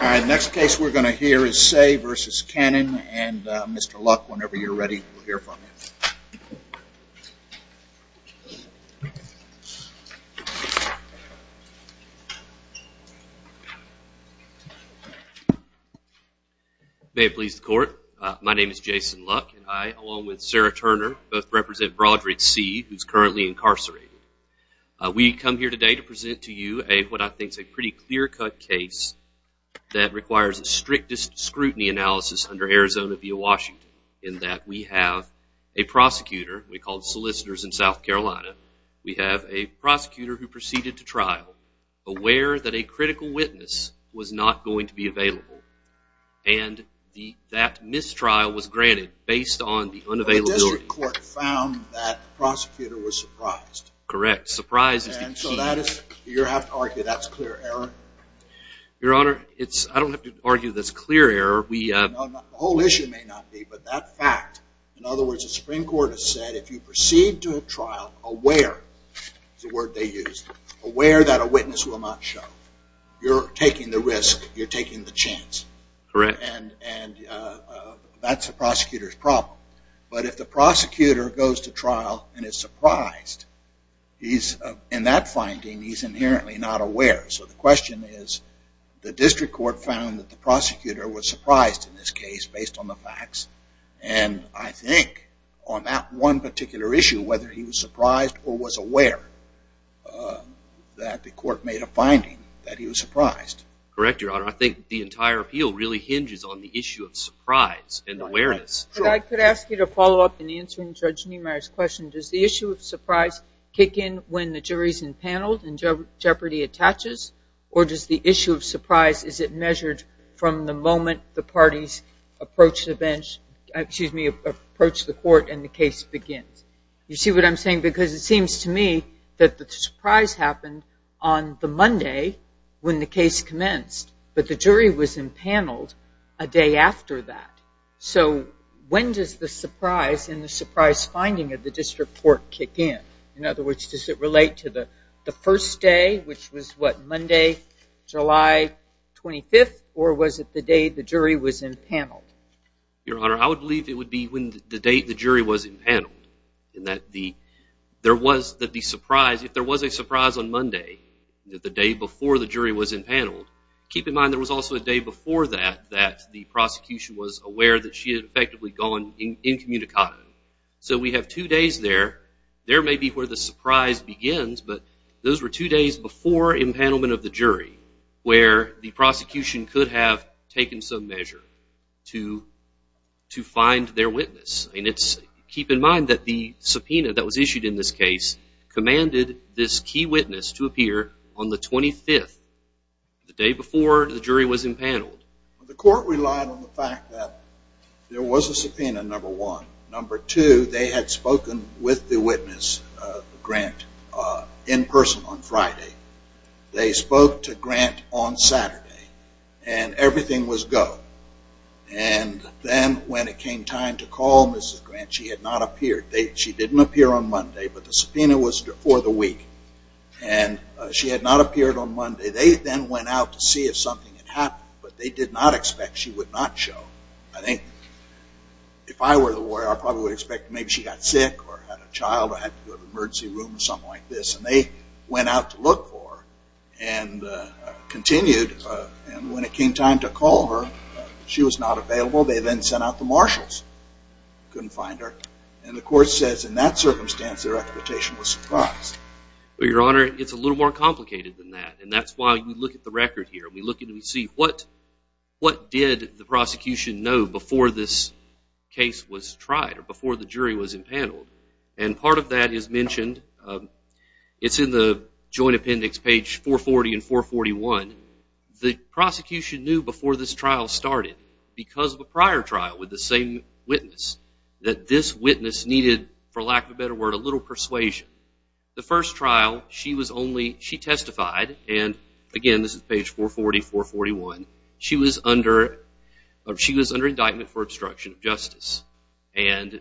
The next case we're going to hear is Seay v. Cannon and Mr. Luck, whenever you're ready, we'll hear from you. May it please the court, my name is Jason Luck and I, along with Sarah Turner, both represent Broderick Seay, who's currently incarcerated. We come here today to present to you what I think is a pretty clear-cut case that requires the strictest scrutiny analysis under Arizona v. Washington, in that we have a prosecutor, we call solicitors in South Carolina, we have a prosecutor who proceeded to trial, aware that a critical witness was not going to be available, and that mistrial was granted based on the unavailability. The district court found that the prosecutor was surprised. Correct. Surprise is the key. And so that is, you have to argue that's clear error? Your Honor, it's, I don't have to argue that's clear error, we... No, the whole issue may not be, but that fact, in other words, the Supreme Court has said if you proceed to a trial aware, is the word they used, aware that a witness will not show, you're taking the risk, you're taking the chance. Correct. And that's the prosecutor's problem. But if the prosecutor goes to trial and is surprised, he's, in that finding, he's inherently not aware. So the question is, the district court found that the prosecutor was surprised in this case based on the facts, and I think on that one particular issue, whether he was surprised or was aware that the court made a finding that he was surprised. Correct, Your Honor. I think the entire appeal really hinges on the issue of surprise and awareness. But I could ask you to follow up in answering Judge Niemeyer's question. Does the issue of surprise kick in when the jury's empaneled and jeopardy attaches, or does the issue of surprise, is it measured from the moment the parties approach the bench, excuse me, approach the court and the case begins? You see what I'm saying? Because it seems to me that the surprise happened on the Monday when the case commenced, but the jury was empaneled a day after that. So when does the surprise in the surprise finding of the district court kick in? In other words, does it relate to the first day, which was what, Monday, July 25th, or was it the day the jury was empaneled? Your Honor, I would believe it would be when the date the jury was empaneled, in that there was the surprise. If there was a surprise on Monday, the day before the jury was empaneled, keep in mind there was also a day before that that the prosecution was aware that she had effectively gone incommunicado. So we have two days there. There may be where the surprise begins, but those were two days before empanelment of the jury where the prosecution could have taken some measure to find their witness. Keep in mind that the subpoena that was issued in this case commanded this key witness to appear on the 25th, the day before the jury was empaneled. The court relied on the fact that there was a subpoena, number one. Number two, they had spoken with the witness, Grant, in person on Friday. They spoke to Grant on Saturday, and everything was go. And then when it came time to call Mrs. Grant, she had not appeared. She didn't appear on Monday, but the subpoena was for the week. And she had not appeared on Monday. They then went out to see if something had happened, but they did not expect she would not show. I think if I were the lawyer, I probably would expect maybe she got sick or had a child or had to go to an emergency room or something like this. And they went out to look for her and continued. And when it came time to call her, she was not available. They then sent out the marshals. Couldn't find her. And the court says in that circumstance, their expectation was surprised. Well, Your Honor, it's a little more complicated than that. And that's why we look at the record here. We look and we see what did the prosecution know before this case was tried or before the jury was empaneled. And part of that is mentioned. It's in the joint appendix, page 440 and 441. The prosecution knew before this trial started, because of a prior trial with the same witness, that this witness needed, for lack of a better word, a little persuasion. The first trial, she testified, and again, this is page 440, 441. She was under indictment for obstruction of justice. And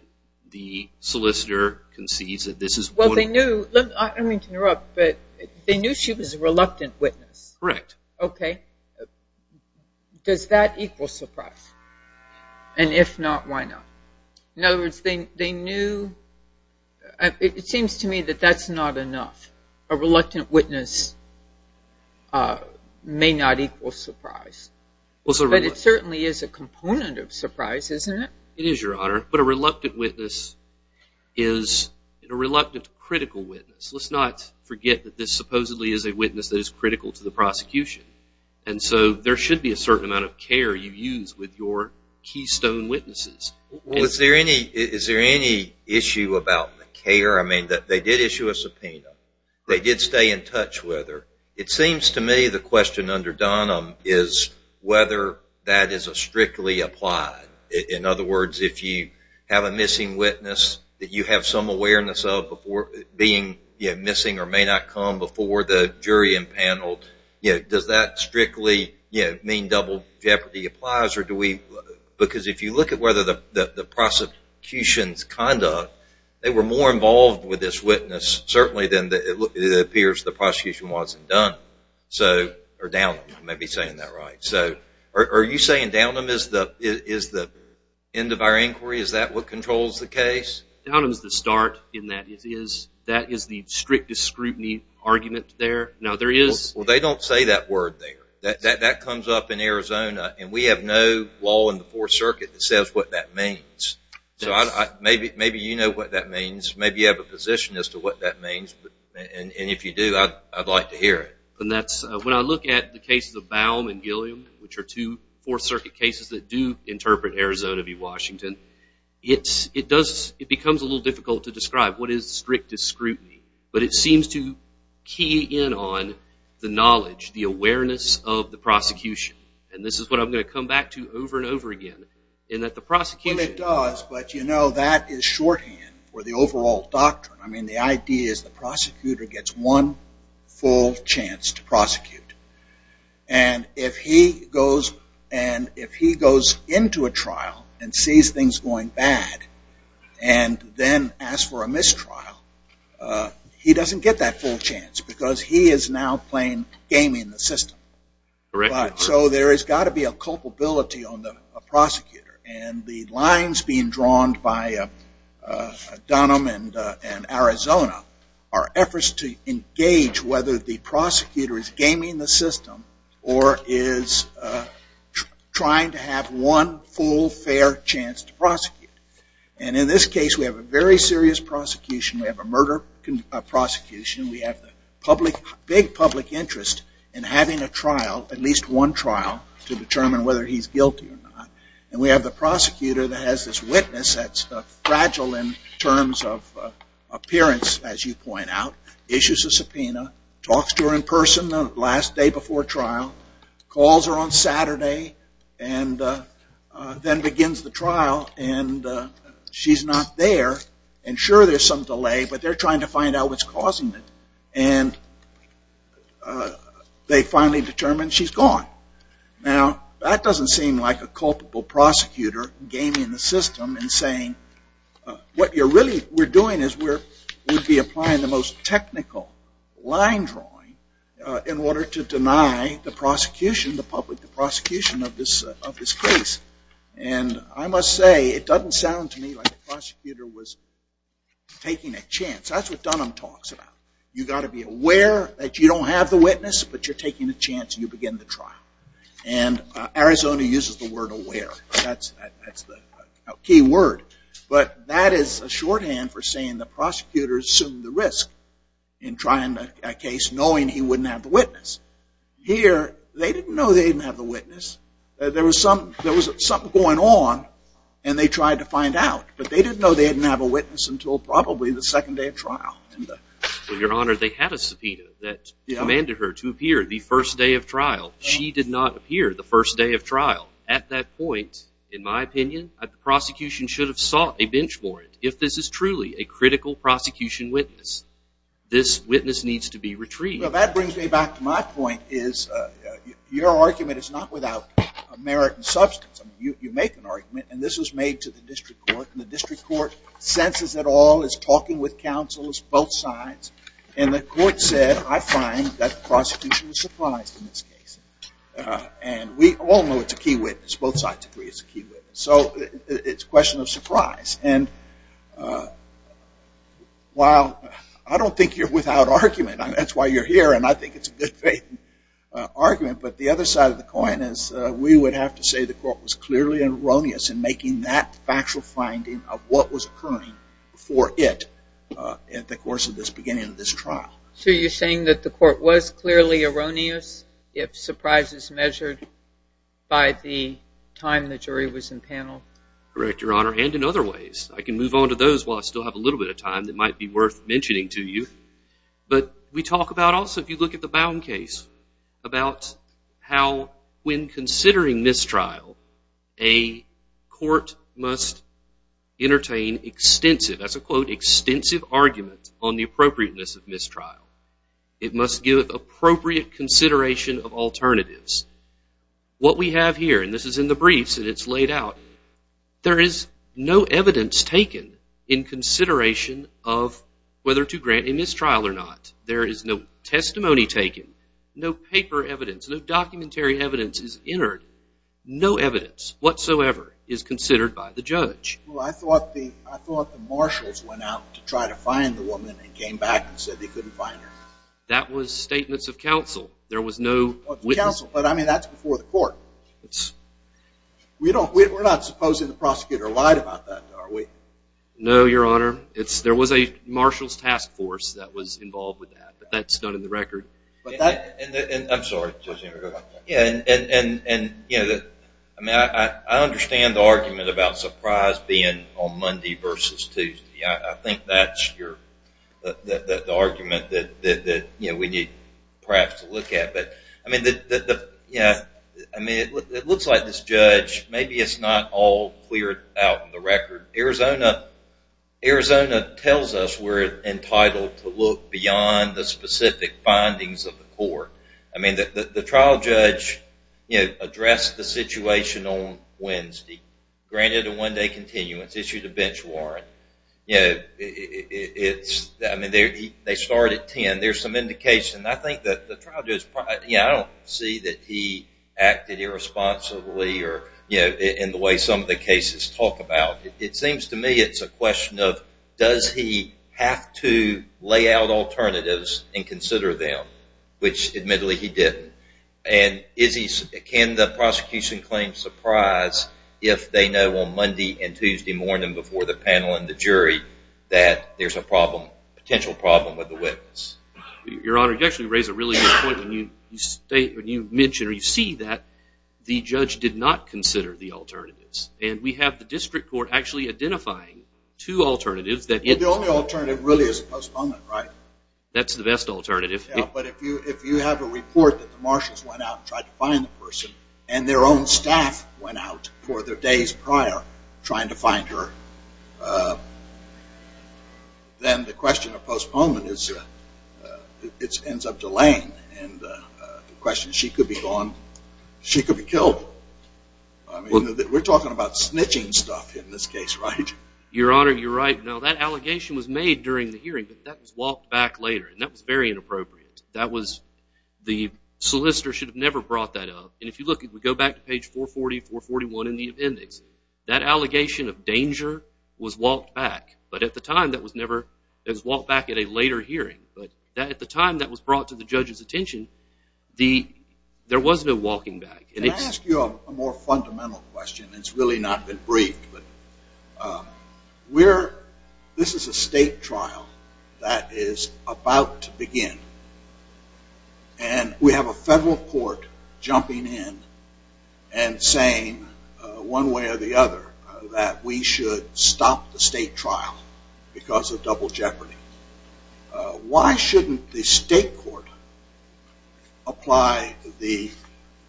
the solicitor concedes that this is one. Well, they knew. I don't mean to interrupt, but they knew she was a reluctant witness. Correct. Okay. Does that equal surprise? And if not, why not? In other words, they knew. It seems to me that that's not enough. A reluctant witness may not equal surprise. But it certainly is a component of surprise, isn't it? It is, Your Honor. But a reluctant witness is a reluctant critical witness. Let's not forget that this supposedly is a witness that is critical to the prosecution. And so there should be a certain amount of care you use with your keystone witnesses. Is there any issue about the care? I mean, they did issue a subpoena. They did stay in touch with her. It seems to me the question under Dunham is whether that is a strictly applied. In other words, if you have a missing witness that you have some awareness of being missing or may not come before the jury and panel, does that strictly mean double jeopardy applies? Because if you look at whether the prosecution's conduct, they were more involved with this witness, certainly, than it appears the prosecution wasn't done. Or Dunham, I may be saying that right. Are you saying Dunham is the end of our inquiry? Is that what controls the case? Dunham is the start in that. That is the strictest scrutiny argument there. Well, they don't say that word there. That comes up in Arizona. And we have no law in the Fourth Circuit that says what that means. So maybe you know what that means. Maybe you have a position as to what that means. And if you do, I'd like to hear it. When I look at the cases of Baum and Gilliam, which are two Fourth Circuit cases that do interpret Arizona v. Washington, it becomes a little difficult to describe what is strictest scrutiny. But it seems to key in on the knowledge, the awareness of the prosecution. And this is what I'm going to come back to over and over again, in that the prosecution. Well, it does. But, you know, that is shorthand for the overall doctrine. I mean, the idea is the prosecutor gets one full chance to prosecute. And if he goes into a trial and sees things going bad and then asks for a mistrial, he doesn't get that full chance because he is now playing game in the system. So there has got to be a culpability on the prosecutor. And the lines being drawn by Dunham and Arizona are efforts to engage whether the prosecutor is gaming the system or is trying to have one full, fair chance to prosecute. And in this case, we have a very serious prosecution. We have a murder prosecution. We have the big public interest in having a trial, at least one trial, to determine whether he's guilty or not. And we have the prosecutor that has this witness that's fragile in terms of appearance, as you point out, issues a subpoena, talks to her in person the last day before trial, calls her on Saturday, and then begins the trial. And she's not there. And sure, there's some delay, but they're trying to find out what's causing it. And they finally determine she's gone. Now, that doesn't seem like a culpable prosecutor gaming the system and saying what we're doing is we're applying the most technical line drawing in order to deny the prosecution, the public prosecution of this case. And I must say, it doesn't sound to me like the prosecutor was taking a chance. That's what Dunham talks about. You've got to be aware that you don't have the witness, but you're taking a chance, and you begin the trial. And Arizona uses the word aware. That's the key word. But that is a shorthand for saying the prosecutor assumed the risk in trying a case knowing he wouldn't have the witness. Here, they didn't know they didn't have the witness. There was something going on, and they tried to find out. But they didn't know they didn't have a witness until probably the second day of trial. Well, Your Honor, they had a subpoena that commanded her to appear the first day of trial. She did not appear the first day of trial. At that point, in my opinion, the prosecution should have sought a bench warrant. If this is truly a critical prosecution witness, this witness needs to be retrieved. Well, that brings me back to my point is your argument is not without merit and substance. You make an argument, and this was made to the district court, and the district court senses it all as talking with counsels, both sides. And the court said, I find that the prosecution was surprised in this case. And we all know it's a key witness. Both sides agree it's a key witness. So it's a question of surprise. And while I don't think you're without argument. That's why you're here, and I think it's a good argument. But the other side of the coin is we would have to say the court was clearly erroneous in making that factual finding of what was occurring for it at the course of this beginning of this trial. So you're saying that the court was clearly erroneous if surprise is measured by the time the jury was in panel? Correct, Your Honor, and in other ways. I can move on to those while I still have a little bit of time that might be worth mentioning to you. But we talk about also, if you look at the Bowne case, about how when considering mistrial, a court must entertain extensive, that's a quote, extensive argument on the appropriateness of mistrial. It must give it appropriate consideration of alternatives. What we have here, and this is in the briefs and it's laid out, there is no evidence taken in consideration of whether to grant a mistrial or not. There is no testimony taken, no paper evidence, no documentary evidence is entered. No evidence whatsoever is considered by the judge. Well, I thought the marshals went out to try to find the woman and came back and said they couldn't find her. That was statements of counsel. There was no witness. But, I mean, that's before the court. We're not supposing the prosecutor lied about that, are we? No, Your Honor. There was a marshals task force that was involved with that, but that's not in the record. I'm sorry, Judge Ingram. I understand the argument about surprise being on Monday versus Tuesday. I think that's the argument that we need perhaps to look at. I mean, it looks like this judge, maybe it's not all cleared out in the record. Arizona tells us we're entitled to look beyond the specific findings of the court. I mean, the trial judge addressed the situation on Wednesday, granted a one-day continuance, issued a bench warrant. I mean, they start at 10. There's some indication. I don't see that he acted irresponsibly in the way some of the cases talk about. It seems to me it's a question of does he have to lay out alternatives and consider them, which admittedly he didn't. And can the prosecution claim surprise if they know on Monday and Tuesday morning before the panel and the jury that there's a potential problem with the witness? Your Honor, you actually raise a really good point. When you mention or you see that, the judge did not consider the alternatives, and we have the district court actually identifying two alternatives. The only alternative really is a postponement, right? That's the best alternative. Yeah, but if you have a report that the marshals went out and tried to find the person and their own staff went out for the days prior trying to find her, then the question of postponement ends up delaying. And the question is she could be gone, she could be killed. We're talking about snitching stuff in this case, right? Your Honor, you're right. Now, that allegation was made during the hearing, but that was walked back later, and that was very inappropriate. The solicitor should have never brought that up. And if you look, if we go back to page 440, 441 in the index, that allegation of danger was walked back, but at the time that was never, it was walked back at a later hearing. But at the time that was brought to the judge's attention, there was no walking back. Can I ask you a more fundamental question? It's really not been briefed, but this is a state trial that is about to begin, and we have a federal court jumping in and saying one way or the other that we should stop the state trial because of double jeopardy. Why shouldn't the state court apply the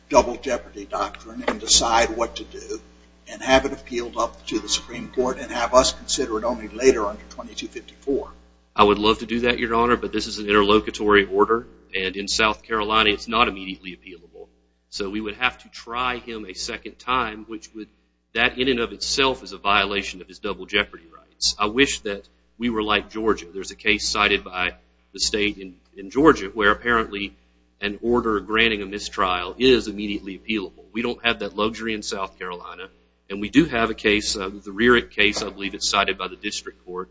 double jeopardy doctrine and decide what to do and have it appealed up to the Supreme Court and have us consider it only later under 2254? I would love to do that, Your Honor, but this is an interlocutory order, and in South Carolina it's not immediately appealable. So we would have to try him a second time, which would, that in and of itself, is a violation of his double jeopardy rights. I wish that we were like Georgia. There's a case cited by the state in Georgia where apparently an order granting a mistrial is immediately appealable. We don't have that luxury in South Carolina, and we do have a case, I believe it's cited by the district court,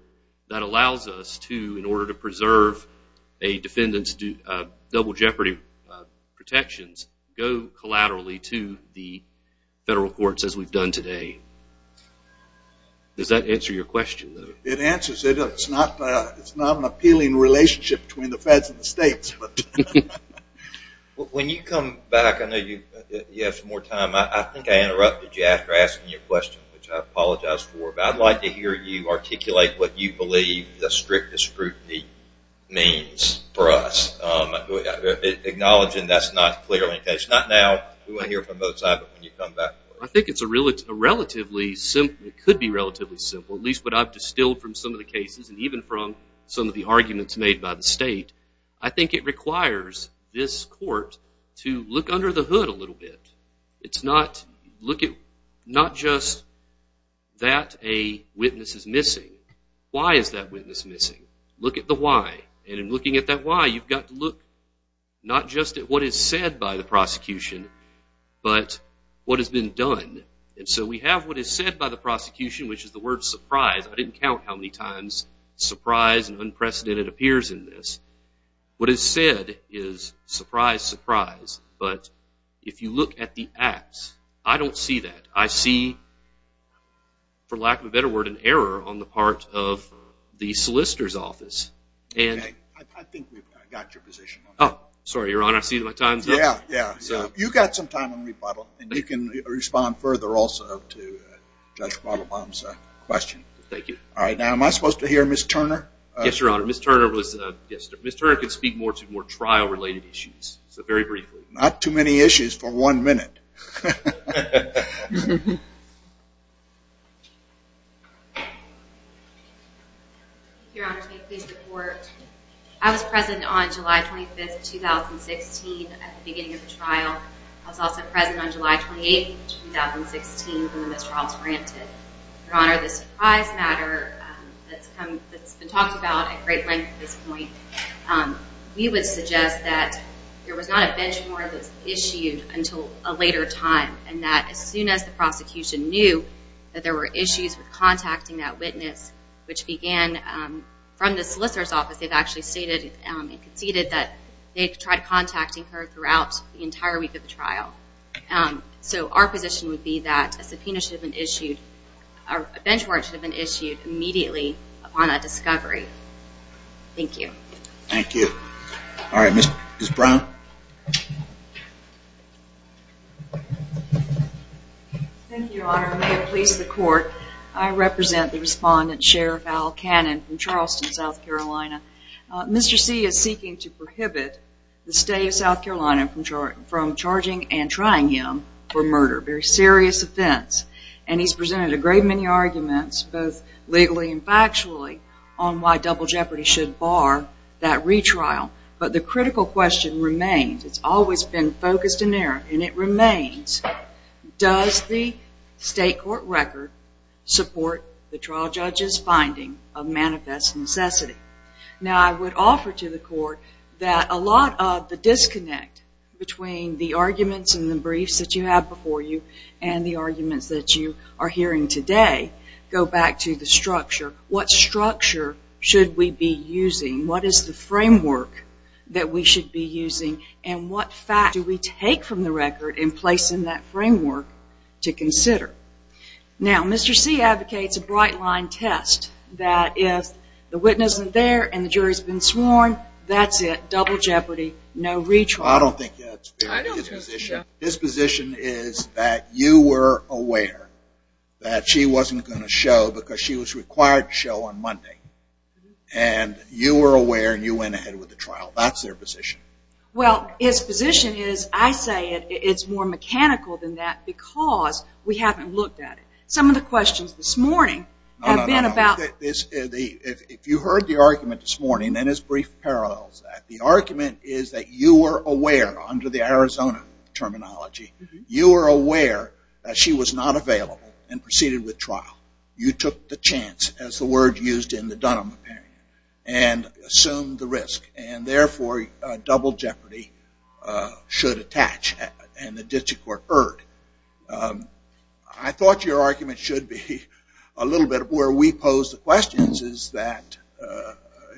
that allows us to, in order to preserve a defendant's double jeopardy protections, go collaterally to the federal courts as we've done today. Does that answer your question? It answers it. It's not an appealing relationship between the feds and the states. When you come back, I know you have some more time. I think I interrupted you after asking your question, which I apologize for, but I'd like to hear you articulate what you believe the strictest scrutiny means for us, acknowledging that's not clearly the case. Not now. We want to hear it from the other side, but when you come back. I think it's a relatively simple, it could be relatively simple, at least what I've distilled from some of the cases, and even from some of the arguments made by the state. I think it requires this court to look under the hood a little bit. It's not just that a witness is missing. Why is that witness missing? Look at the why, and in looking at that why, you've got to look not just at what is said by the prosecution, but what has been done. And so we have what is said by the prosecution, which is the word surprise. I didn't count how many times surprise and unprecedented appears in this. What is said is surprise, surprise. But if you look at the acts, I don't see that. I see, for lack of a better word, an error on the part of the solicitor's office. I think we've got your position. Sorry, Your Honor, I see my time's up. Yeah, yeah. You've got some time on rebuttal, and you can respond further also to Judge Mottlebaum's question. Thank you. All right, now am I supposed to hear Ms. Turner? Yes, Your Honor. Ms. Turner can speak more to more trial-related issues, so very briefly. Not too many issues for one minute. Your Honor, may I please report? I was present on July 25th, 2016 at the beginning of the trial. I was also present on July 28th, 2016 when this trial was granted. Your Honor, the surprise matter that's been talked about at great length at this point, we would suggest that there was not a bench warrant that was issued until a later time, and that as soon as the prosecution knew that there were issues with contacting that witness, which began from the solicitor's office, they've actually stated and conceded that they tried contacting her throughout the entire week of the trial. So our position would be that a subpoena should have been issued, Thank you. Thank you. All right, Ms. Brown. Thank you, Your Honor. May it please the Court, I represent the Respondent Sheriff Al Cannon from Charleston, South Carolina. Mr. C is seeking to prohibit the state of South Carolina from charging and trying him for murder, a very serious offense, and he's presented a great many arguments, both legally and factually, on why double jeopardy should bar that retrial. But the critical question remains, it's always been focused in error, and it remains, does the state court record support the trial judge's finding of manifest necessity? Now, I would offer to the Court that a lot of the disconnect between the arguments and the briefs that you have before you and the arguments that you are hearing today go back to the structure. What structure should we be using? What is the framework that we should be using? And what facts do we take from the record and place in that framework to consider? Now, Mr. C advocates a bright-line test, that if the witness isn't there and the jury's been sworn, that's it, double jeopardy, no retrial. I don't think that's fair. His position is that you were aware that she wasn't going to show because she was required to show on Monday, and you were aware and you went ahead with the trial. That's their position. Well, his position is, I say it's more mechanical than that because we haven't looked at it. Some of the questions this morning have been about... If you heard the argument this morning, then his brief parallels that. The argument is that you were aware, under the Arizona terminology, you were aware that she was not available and proceeded with trial. You took the chance, as the word used in the Dunham opinion, and assumed the risk. And therefore, double jeopardy should attach and the district court heard. I thought your argument should be a little bit where we pose the questions that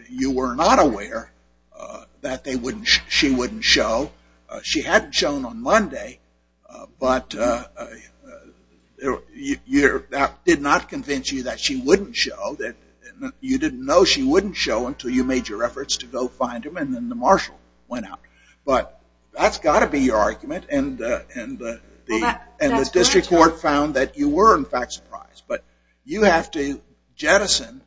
you were not aware that she wouldn't show. She had shown on Monday, but that did not convince you that she wouldn't show. You didn't know she wouldn't show until you made your efforts to go find her, and then the marshal went out. But that's got to be your argument, and the district court found that you were, in fact, surprised. But you have to jettison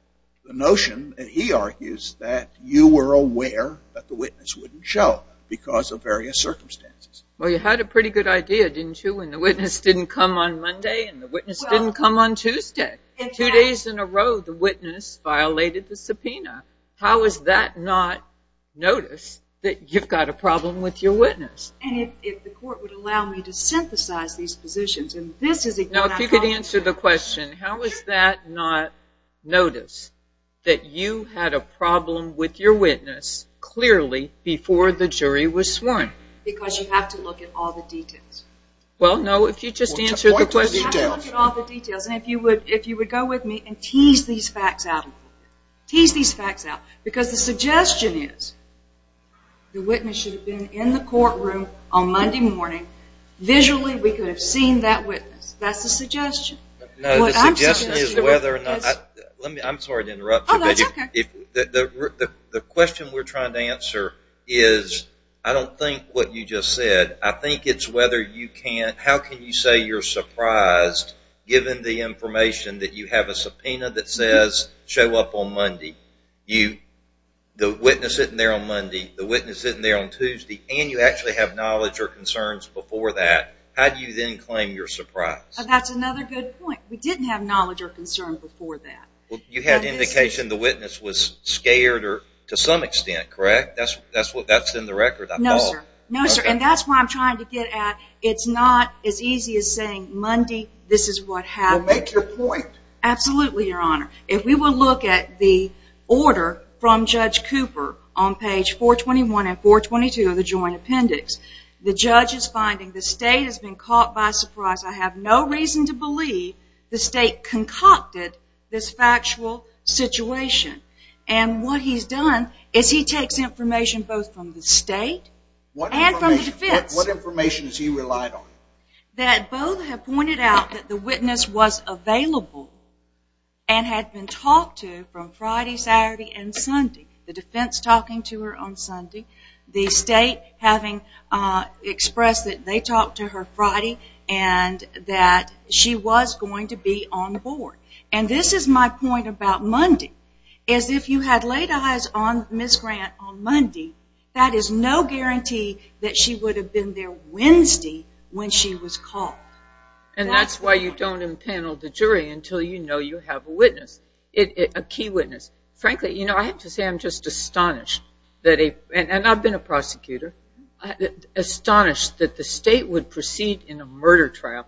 the notion that he argues that you were aware that the witness wouldn't show because of various circumstances. Well, you had a pretty good idea, didn't you, when the witness didn't come on Monday and the witness didn't come on Tuesday. Two days in a row, the witness violated the subpoena. How is that not notice that you've got a problem with your witness? And if the court would allow me to synthesize these positions, and this is... Now, if you could answer the question, how is that not notice that you had a problem with your witness clearly before the jury was sworn? Because you have to look at all the details. Well, no, if you just answer the question... You have to look at all the details. And if you would go with me and tease these facts out, tease these facts out, because the suggestion is the witness should have been in the courtroom on Monday morning. Visually, we could have seen that witness. That's the suggestion. No, the suggestion is whether or not... I'm sorry to interrupt you. Oh, that's okay. The question we're trying to answer is I don't think what you just said. I think it's whether you can... How can you say you're surprised given the information that you have a subpoena that says show up on Monday? The witness isn't there on Monday. The witness isn't there on Tuesday. And you actually have knowledge or concerns before that. How do you then claim you're surprised? That's another good point. We didn't have knowledge or concern before that. You had indication the witness was scared to some extent, correct? That's in the record, I thought. No, sir. No, sir, and that's what I'm trying to get at. It's not as easy as saying Monday, this is what happened. Well, make your point. Absolutely, Your Honor. If we will look at the order from Judge Cooper on page 421 and 422 of the joint appendix, the judge is finding the state has been caught by surprise. I have no reason to believe the state concocted this factual situation. And what he's done is he takes information both from the state and from the defense. What information has he relied on? That both have pointed out that the witness was available and had been talked to from Friday, Saturday, and Sunday. The defense talking to her on Sunday. The state having expressed that they talked to her Friday and that she was going to be on board. And this is my point about Monday. If you had laid eyes on Ms. Grant on Monday, that is no guarantee that she would have been there Wednesday when she was caught. And that's why you don't impanel the jury until you know you have a witness, a key witness. Frankly, you know, I have to say I'm just astonished, and I've been a prosecutor, astonished that the state would proceed in a murder trial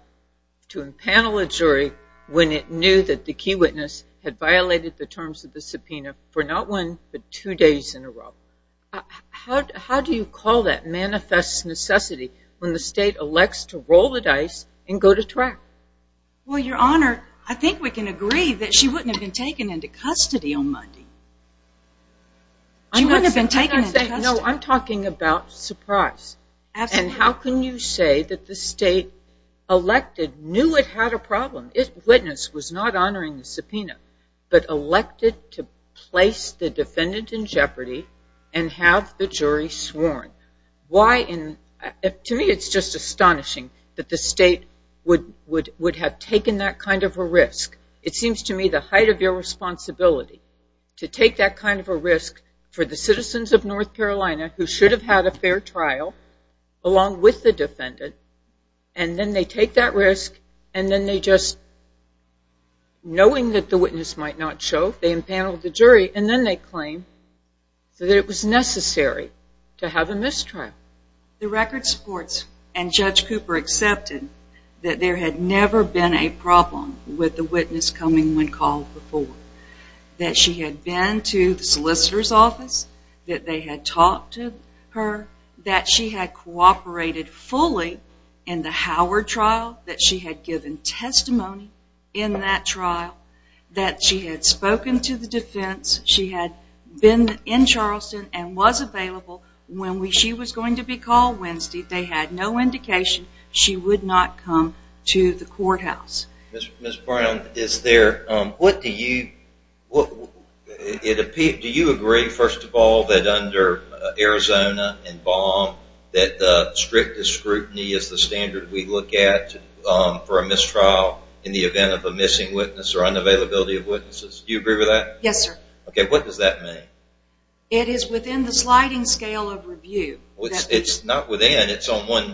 to impanel a jury when it knew that the key witness had violated the terms of the subpoena for not one but two days in a row. How do you call that manifest necessity when the state elects to roll the dice and go to track? Well, Your Honor, I think we can agree that she wouldn't have been taken into custody on Monday. She wouldn't have been taken into custody. No, I'm talking about surprise. And how can you say that the state elected, knew it had a problem, if the witness was not honoring the subpoena, but elected to place the defendant in jeopardy and have the jury sworn? To me, it's just astonishing that the state would have taken that kind of a risk. It seems to me the height of your responsibility to take that kind of a risk for the citizens of North Carolina who should have had a fair trial along with the defendant, and then they take that risk, and then they just, knowing that the witness might not show, they impanel the jury, and then they claim that it was necessary to have a mistrial. The record supports and Judge Cooper accepted that there had never been a problem with the witness coming when called before. That she had been to the solicitor's office, that they had talked to her, that she had cooperated fully in the Howard trial, that she had given testimony in that trial, that she had spoken to the defense, she had been in Charleston, and was available when she was going to be called Wednesday. They had no indication she would not come to the courthouse. Ms. Brown, do you agree, first of all, that under Arizona and Baum, that strict scrutiny is the standard we look at for a mistrial in the event of a missing witness or unavailability of witnesses? Do you agree with that? Yes, sir. Okay, what does that mean? It is within the sliding scale of review. It's not within, it's on one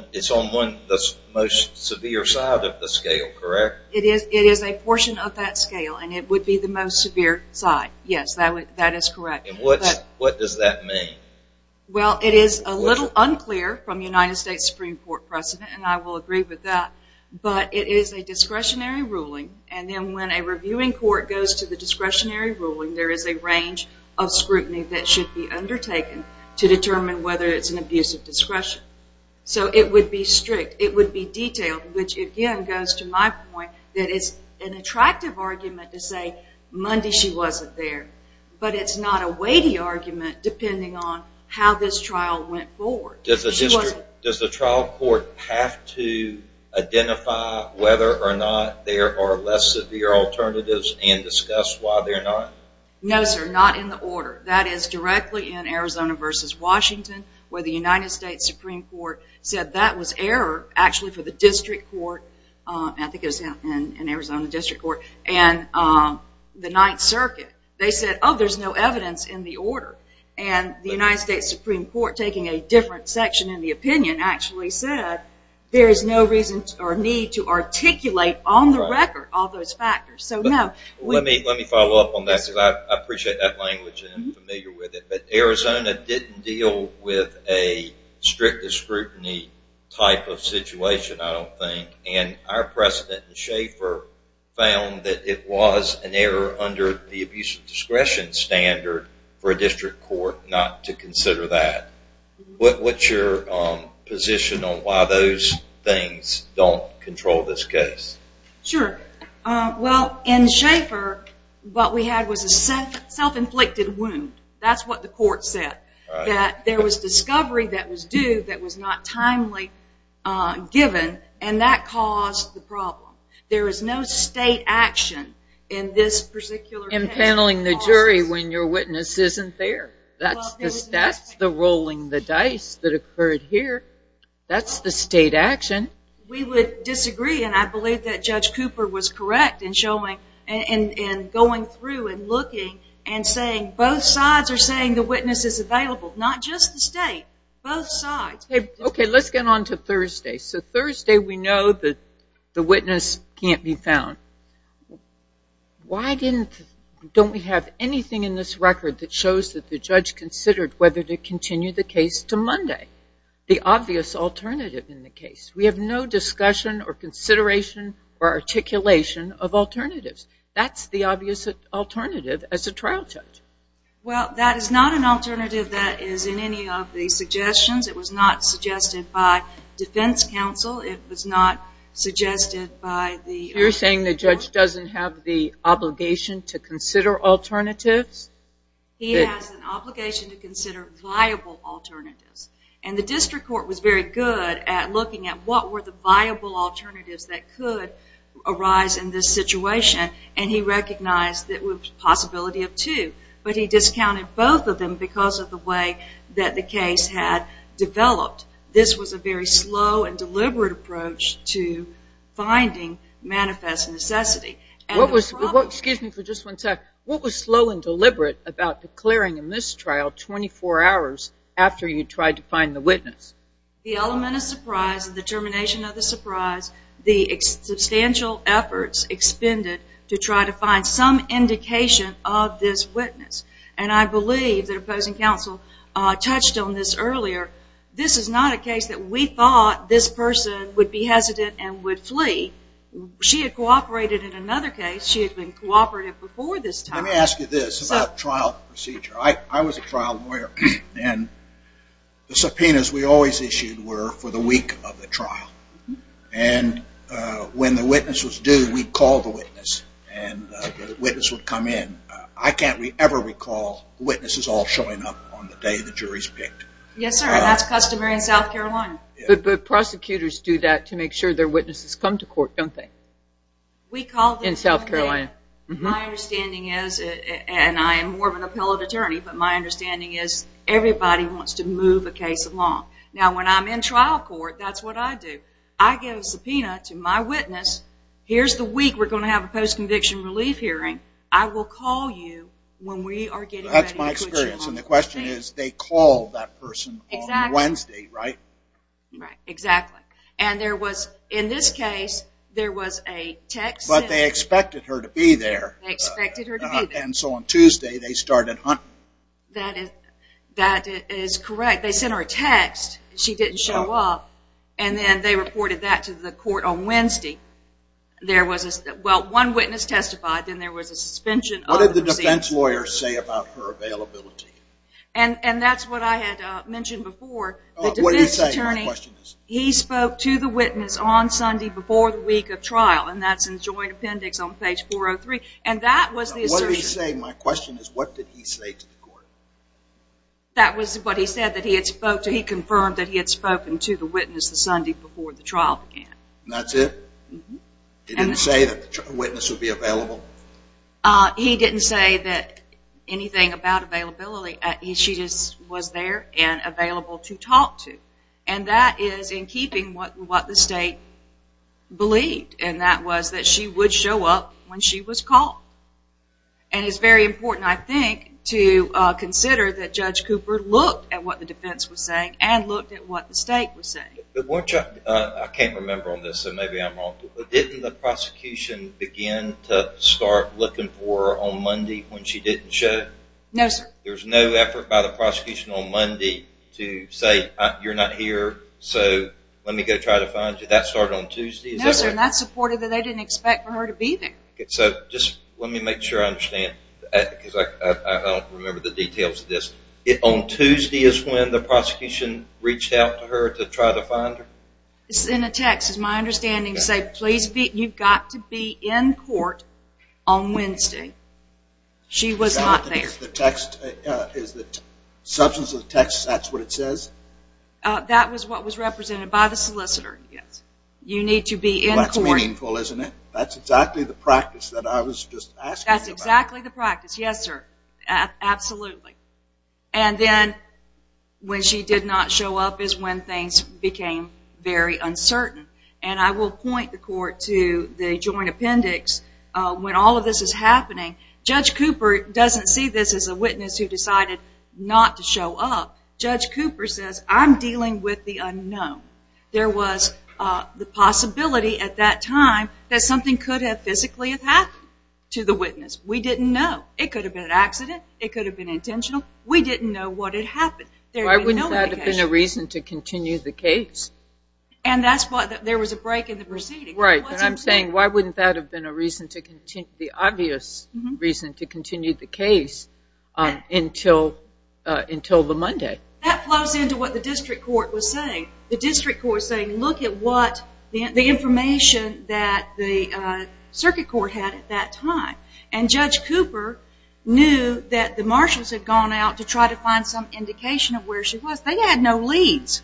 of the most severe side of the scale, correct? It is a portion of that scale, and it would be the most severe side. Yes, that is correct. What does that mean? Well, it is a little unclear from United States Supreme Court precedent, and I will agree with that, but it is a discretionary ruling, and then when a reviewing court goes to the discretionary ruling, there is a range of scrutiny that should be undertaken to determine whether it's an abuse of discretion. So it would be strict. It would be detailed, which again goes to my point that it's an attractive argument to say Monday she wasn't there, but it's not a weighty argument depending on how this trial went forward. Does the trial court have to identify whether or not there are less severe alternatives and discuss why they're not? No, sir, not in the order. That is directly in Arizona versus Washington where the United States Supreme Court said that was error, actually for the district court, and I think it was in Arizona district court, and the Ninth Circuit. They said, oh, there's no evidence in the order, and the United States Supreme Court, taking a different section in the opinion actually said there is no reason or need to articulate on the record all those factors. Let me follow up on that because I appreciate that language and I'm familiar with it, but Arizona didn't deal with a strict scrutiny type of situation, I don't think, and our president, Schaefer, found that it was an error under the abuse of discretion standard for a district court not to consider that. What's your position on why those things don't control this case? Sure. Well, in Schaefer, what we had was a self-inflicted wound. That's what the court said, that there was discovery that was due that was not timely given, and that caused the problem. There is no state action in this particular case. Impaneling the jury when your witness isn't there. That's the rolling the dice that occurred here. That's the state action. We would disagree, and I believe that Judge Cooper was correct in going through and looking and saying both sides are saying the witness is available, not just the state, both sides. Okay, let's get on to Thursday. So Thursday we know that the witness can't be found. Why don't we have anything in this record that shows that the judge considered whether to continue the case to Monday, the obvious alternative in the case? We have no discussion or consideration or articulation of alternatives. That's the obvious alternative as a trial judge. Well, that is not an alternative that is in any of the suggestions. It was not suggested by defense counsel. It was not suggested by the court. You're saying the judge doesn't have the obligation to consider alternatives? He has an obligation to consider viable alternatives, and the district court was very good at looking at what were the viable alternatives that could arise in this situation, and he recognized the possibility of two, but he discounted both of them because of the way that the case had developed. This was a very slow and deliberate approach to finding manifest necessity. What was slow and deliberate about declaring a mistrial 24 hours after you tried to find the witness? The element of surprise and the termination of the surprise, the substantial efforts expended to try to find some indication of this witness, and I believe that opposing counsel touched on this earlier. This is not a case that we thought this person would be hesitant and would flee. She had cooperated in another case. She had been cooperative before this time. Let me ask you this about trial procedure. I was a trial lawyer, and the subpoenas we always issued were for the week of the trial, and when the witness was due, we'd call the witness, and the witness would come in. I can't ever recall witnesses all showing up on the day the jury's picked. Yes, sir, and that's customary in South Carolina. But prosecutors do that to make sure their witnesses come to court, don't they? In South Carolina. My understanding is, and I am more of an appellate attorney, but my understanding is everybody wants to move a case along. Now, when I'm in trial court, that's what I do. I give a subpoena to my witness. Here's the week we're going to have a post-conviction relief hearing. I will call you when we are getting ready to put you on. That's my experience, and the question is they call that person on Wednesday, right? Right, exactly, and there was, in this case, there was a text sent. But they expected her to be there. They expected her to be there. And so on Tuesday, they started hunting. That is correct. They sent her a text, and she didn't show up, and then they reported that to the court on Wednesday. Well, one witness testified, then there was a suspension of the receipts. What did the defense lawyer say about her availability? And that's what I had mentioned before. The defense attorney, he spoke to the witness on Sunday before the week of trial, and that's in the joint appendix on page 403, and that was the assertion. What he's saying, my question is, what did he say to the court? That was what he said that he had spoke to. He confirmed that he had spoken to the witness the Sunday before the trial began. And that's it? Mm-hmm. He didn't say that the witness would be available? He didn't say anything about availability. She just was there and available to talk to. And that is in keeping with what the state believed, and that was that she would show up when she was called. And it's very important, I think, to consider that Judge Cooper looked at what the defense was saying and looked at what the state was saying. I can't remember on this, so maybe I'm wrong, but didn't the prosecution begin to start looking for her on Monday when she didn't show? No, sir. There was no effort by the prosecution on Monday to say, you're not here, so let me go try to find you. That started on Tuesday, is that right? No, sir, and that's supportive that they didn't expect for her to be there. So just let me make sure I understand, because I don't remember the details of this. On Tuesday is when the prosecution reached out to her to try to find her? It's in a text. It's my understanding to say, you've got to be in court on Wednesday. She was not there. Is the substance of the text, that's what it says? That was what was represented by the solicitor, yes. You need to be in court. Well, that's meaningful, isn't it? That's exactly the practice that I was just asking about. That's exactly the practice, yes, sir, absolutely. And then when she did not show up is when things became very uncertain. And I will point the court to the joint appendix when all of this is happening. Judge Cooper doesn't see this as a witness who decided not to show up. Judge Cooper says, I'm dealing with the unknown. There was the possibility at that time that something could have physically happened to the witness. We didn't know. It could have been an accident. It could have been intentional. We didn't know what had happened. Why wouldn't that have been a reason to continue the case? And that's why there was a break in the proceeding. Right, and I'm saying why wouldn't that have been a reason to continue, the obvious reason to continue the case until the Monday? That flows into what the district court was saying. The district court was saying, look at what the information that the circuit court had at that time. And Judge Cooper knew that the marshals had gone out to try to find some indication of where she was. They had no leads.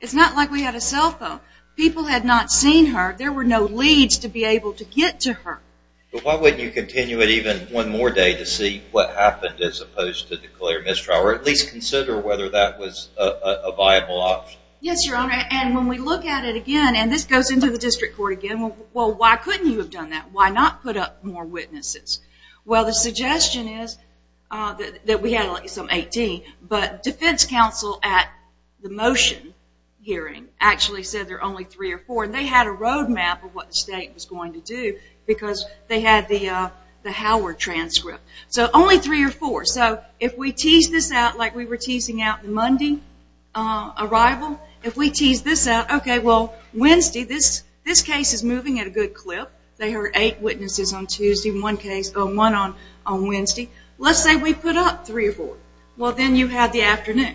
It's not like we had a cell phone. People had not seen her. There were no leads to be able to get to her. But why wouldn't you continue it even one more day to see what happened as opposed to declare mistrial or at least consider whether that was a viable option? Yes, Your Honor, and when we look at it again, and this goes into the district court again, well, why couldn't you have done that? Why not put up more witnesses? Well, the suggestion is that we had some 18, but defense counsel at the motion hearing actually said there are only three or four, and they had a roadmap of what the state was going to do because they had the Howard transcript. So only three or four. So if we tease this out like we were teasing out the Monday arrival, if we tease this out, okay, well, Wednesday, this case is moving at a good clip. They heard eight witnesses on Tuesday and one on Wednesday. Let's say we put up three or four. Well, then you have the afternoon.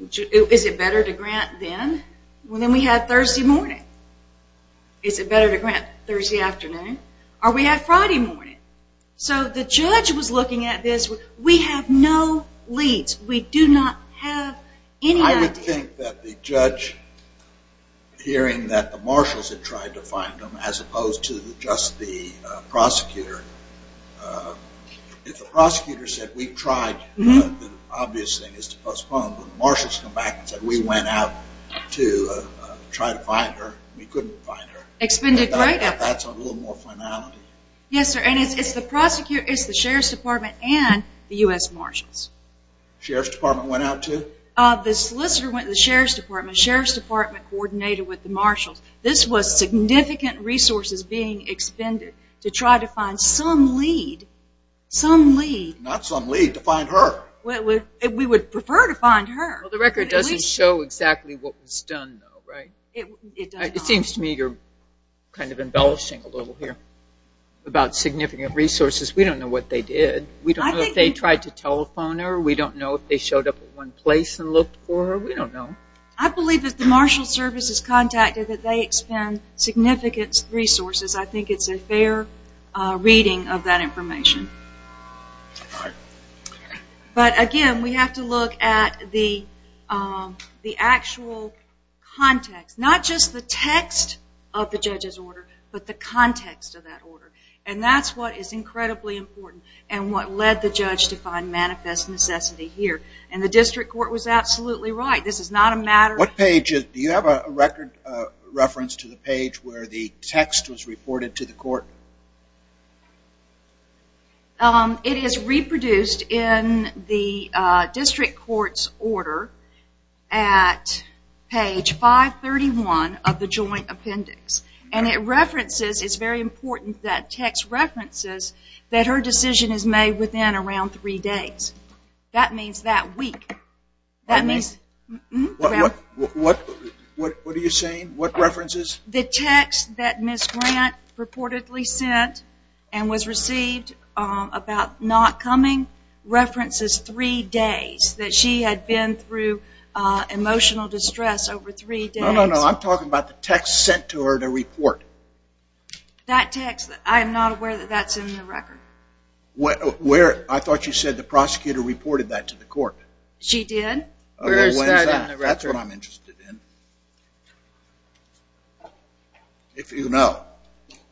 Is it better to grant then? Well, then we have Thursday morning. Is it better to grant Thursday afternoon? Or we have Friday morning. So the judge was looking at this. We have no leads. We do not have any idea. I would think that the judge hearing that the marshals had tried to find them as opposed to just the prosecutor, if the prosecutor said we tried, the obvious thing is to postpone, but the marshals come back and said we went out to try to find her. We couldn't find her. That's a little more finality. Yes, sir, and it's the sheriff's department and the U.S. marshals. Sheriff's department went out to? The sheriff's department coordinated with the marshals. This was significant resources being expended to try to find some lead, some lead. Not some lead, to find her. We would prefer to find her. Well, the record doesn't show exactly what was done, though, right? It doesn't. It seems to me you're kind of embellishing a little here about significant resources. We don't know what they did. We don't know if they tried to telephone her. We don't know if they showed up at one place and looked for her. We don't know. I believe that the marshal services contacted that they expend significant resources. I think it's a fair reading of that information. But, again, we have to look at the actual context, not just the text of the judge's order, but the context of that order. And that's what is incredibly important and what led the judge to find manifest necessity here. And the district court was absolutely right. This is not a matter of... Do you have a record reference to the page where the text was reported to the court? It is reproduced in the district court's order at page 531 of the joint appendix. And it references, it's very important that text references, that her decision is made within around three days. That means that week. That means... What are you saying? What references? The text that Ms. Grant reportedly sent and was received about not coming references three days that she had been through emotional distress over three days. No, no, no. I'm talking about the text sent to her to report. That text, I'm not aware that that's in the record. I thought you said the prosecutor reported that to the court. She did. That's what I'm interested in. If you know.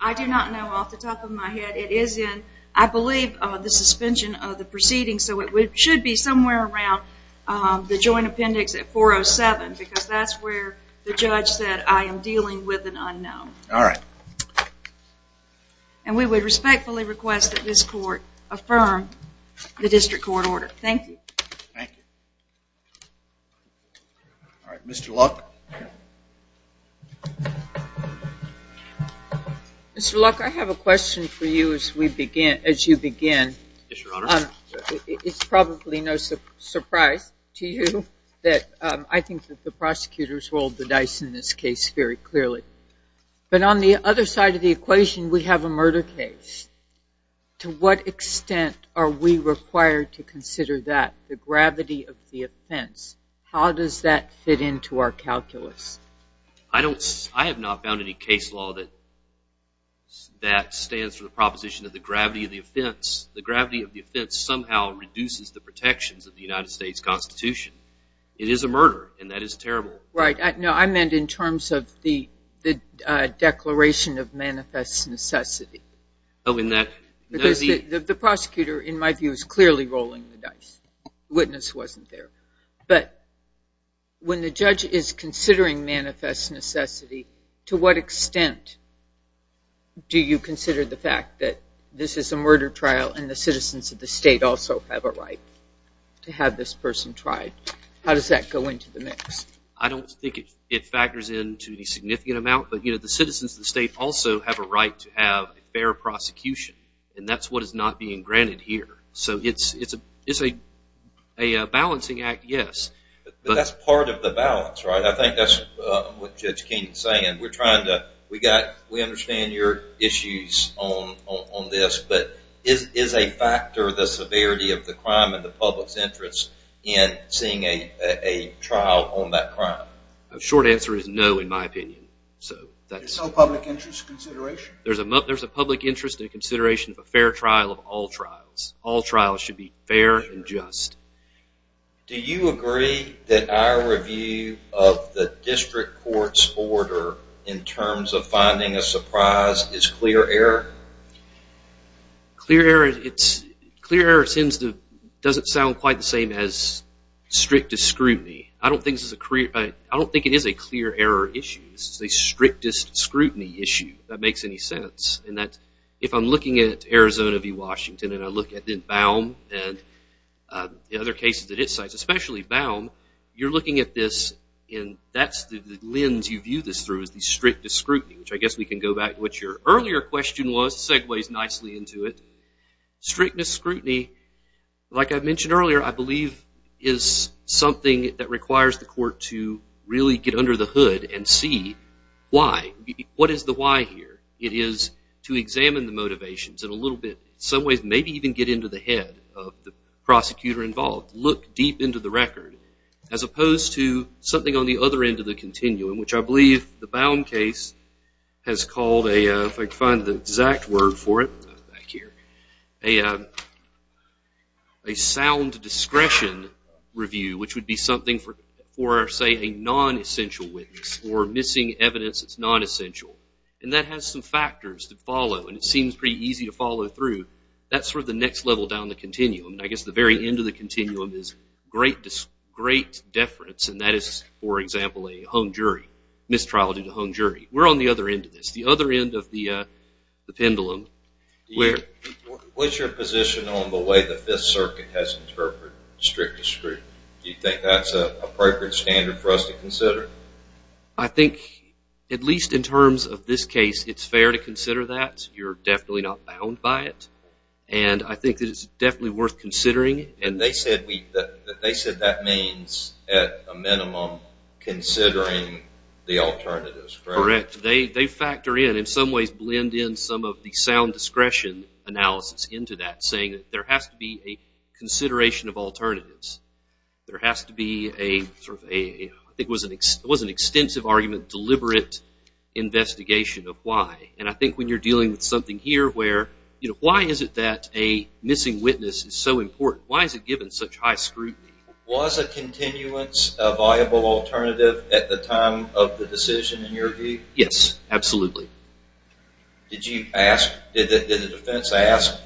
I do not know off the top of my head. It is in, I believe, the suspension of the proceedings. So it should be somewhere around the joint appendix at 407 because that's where the judge said I am dealing with an unknown. All right. And we would respectfully request that this court affirm the district court order. Thank you. Thank you. All right, Mr. Luck. Mr. Luck, I have a question for you as you begin. Yes, Your Honor. It's probably no surprise to you that I think that the prosecutors rolled the dice in this case very clearly. But on the other side of the equation, we have a murder case. To what extent are we required to consider that, the gravity of the offense? How does that fit into our calculus? I have not found any case law that stands for the proposition of the gravity of the offense. The gravity of the offense somehow reduces the protections of the United States Constitution. It is a murder, and that is terrible. Right. No, I meant in terms of the declaration of manifest necessity. Oh, in that? Because the prosecutor, in my view, is clearly rolling the dice. The witness wasn't there. But when the judge is considering manifest necessity, to what extent do you consider the fact that this is a murder trial and the citizens of the state also have a right to have this person tried? How does that go into the mix? I don't think it factors into the significant amount, but the citizens of the state also have a right to have a fair prosecution, and that's what is not being granted here. So it's a balancing act, yes. But that's part of the balance, right? I think that's what Judge Keenan is saying. We understand your issues on this, but is a factor the severity of the crime in the public's interest in seeing a trial on that crime? The short answer is no, in my opinion. There's no public interest consideration? There's a public interest in consideration of a fair trial of all trials. All trials should be fair and just. Do you agree that our review of the district court's order in terms of finding a surprise is clear error? Clear error doesn't sound quite the same as strictest scrutiny. I don't think it is a clear error issue. This is a strictest scrutiny issue, if that makes any sense. If I'm looking at Arizona v. Washington and I look at Baum and the other cases at its sites, especially Baum, you're looking at this and that's the lens you view this through is the strictest scrutiny, which I guess we can go back to what your earlier question was. It segues nicely into it. Strictest scrutiny, like I mentioned earlier, I believe is something that requires the court to really get under the hood and see why. What is the why here? It is to examine the motivations in a little bit, in some ways, maybe even get into the head of the prosecutor involved. Look deep into the record. As opposed to something on the other end of the continuum, which I believe the Baum case has called a sound discretion review, which would be something for, say, a non-essential witness or missing evidence that's non-essential. That has some factors to follow and it seems pretty easy to follow through. That's sort of the next level down the continuum. I guess the very end of the continuum is great deference, and that is, for example, a home jury, mistrial due to home jury. We're on the other end of this, the other end of the pendulum. What's your position on the way the Fifth Circuit has interpreted strictest scrutiny? Do you think that's a appropriate standard for us to consider? I think, at least in terms of this case, it's fair to consider that. You're definitely not bound by it. I think that it's definitely worth considering. They said that means, at a minimum, considering the alternatives, correct? Correct. They factor in, in some ways blend in some of the sound discretion analysis into that, saying that there has to be a consideration of alternatives. There has to be a, I think it was an extensive argument, deliberate investigation of why. I think when you're dealing with something here where, why is it that a missing witness is so important? Why is it given such high scrutiny? Was a continuance a viable alternative at the time of the decision, in your view? Yes, absolutely. Did you ask, did the defense ask?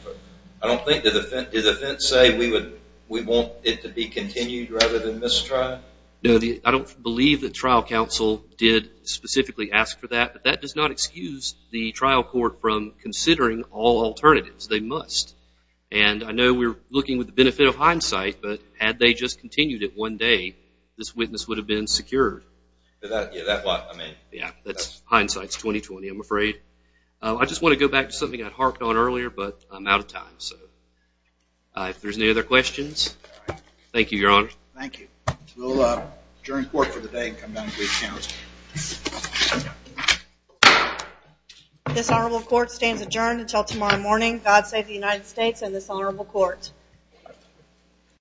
I don't think, did the defense say, we want it to be continued rather than mistrial? No, I don't believe the trial counsel did specifically ask for that, but that does not excuse the trial court from considering all alternatives. They must. And I know we're looking with the benefit of hindsight, but had they just continued it one day, this witness would have been secured. Yeah, that's what I mean. Yeah, that's hindsight's 20-20, I'm afraid. I just want to go back to something I harked on earlier, but I'm out of time, so if there's any other questions. Thank you, Your Honor. Thank you. We'll adjourn court for the day and come down to brief counsel. This honorable court stands adjourned until tomorrow morning. God save the United States and this honorable court.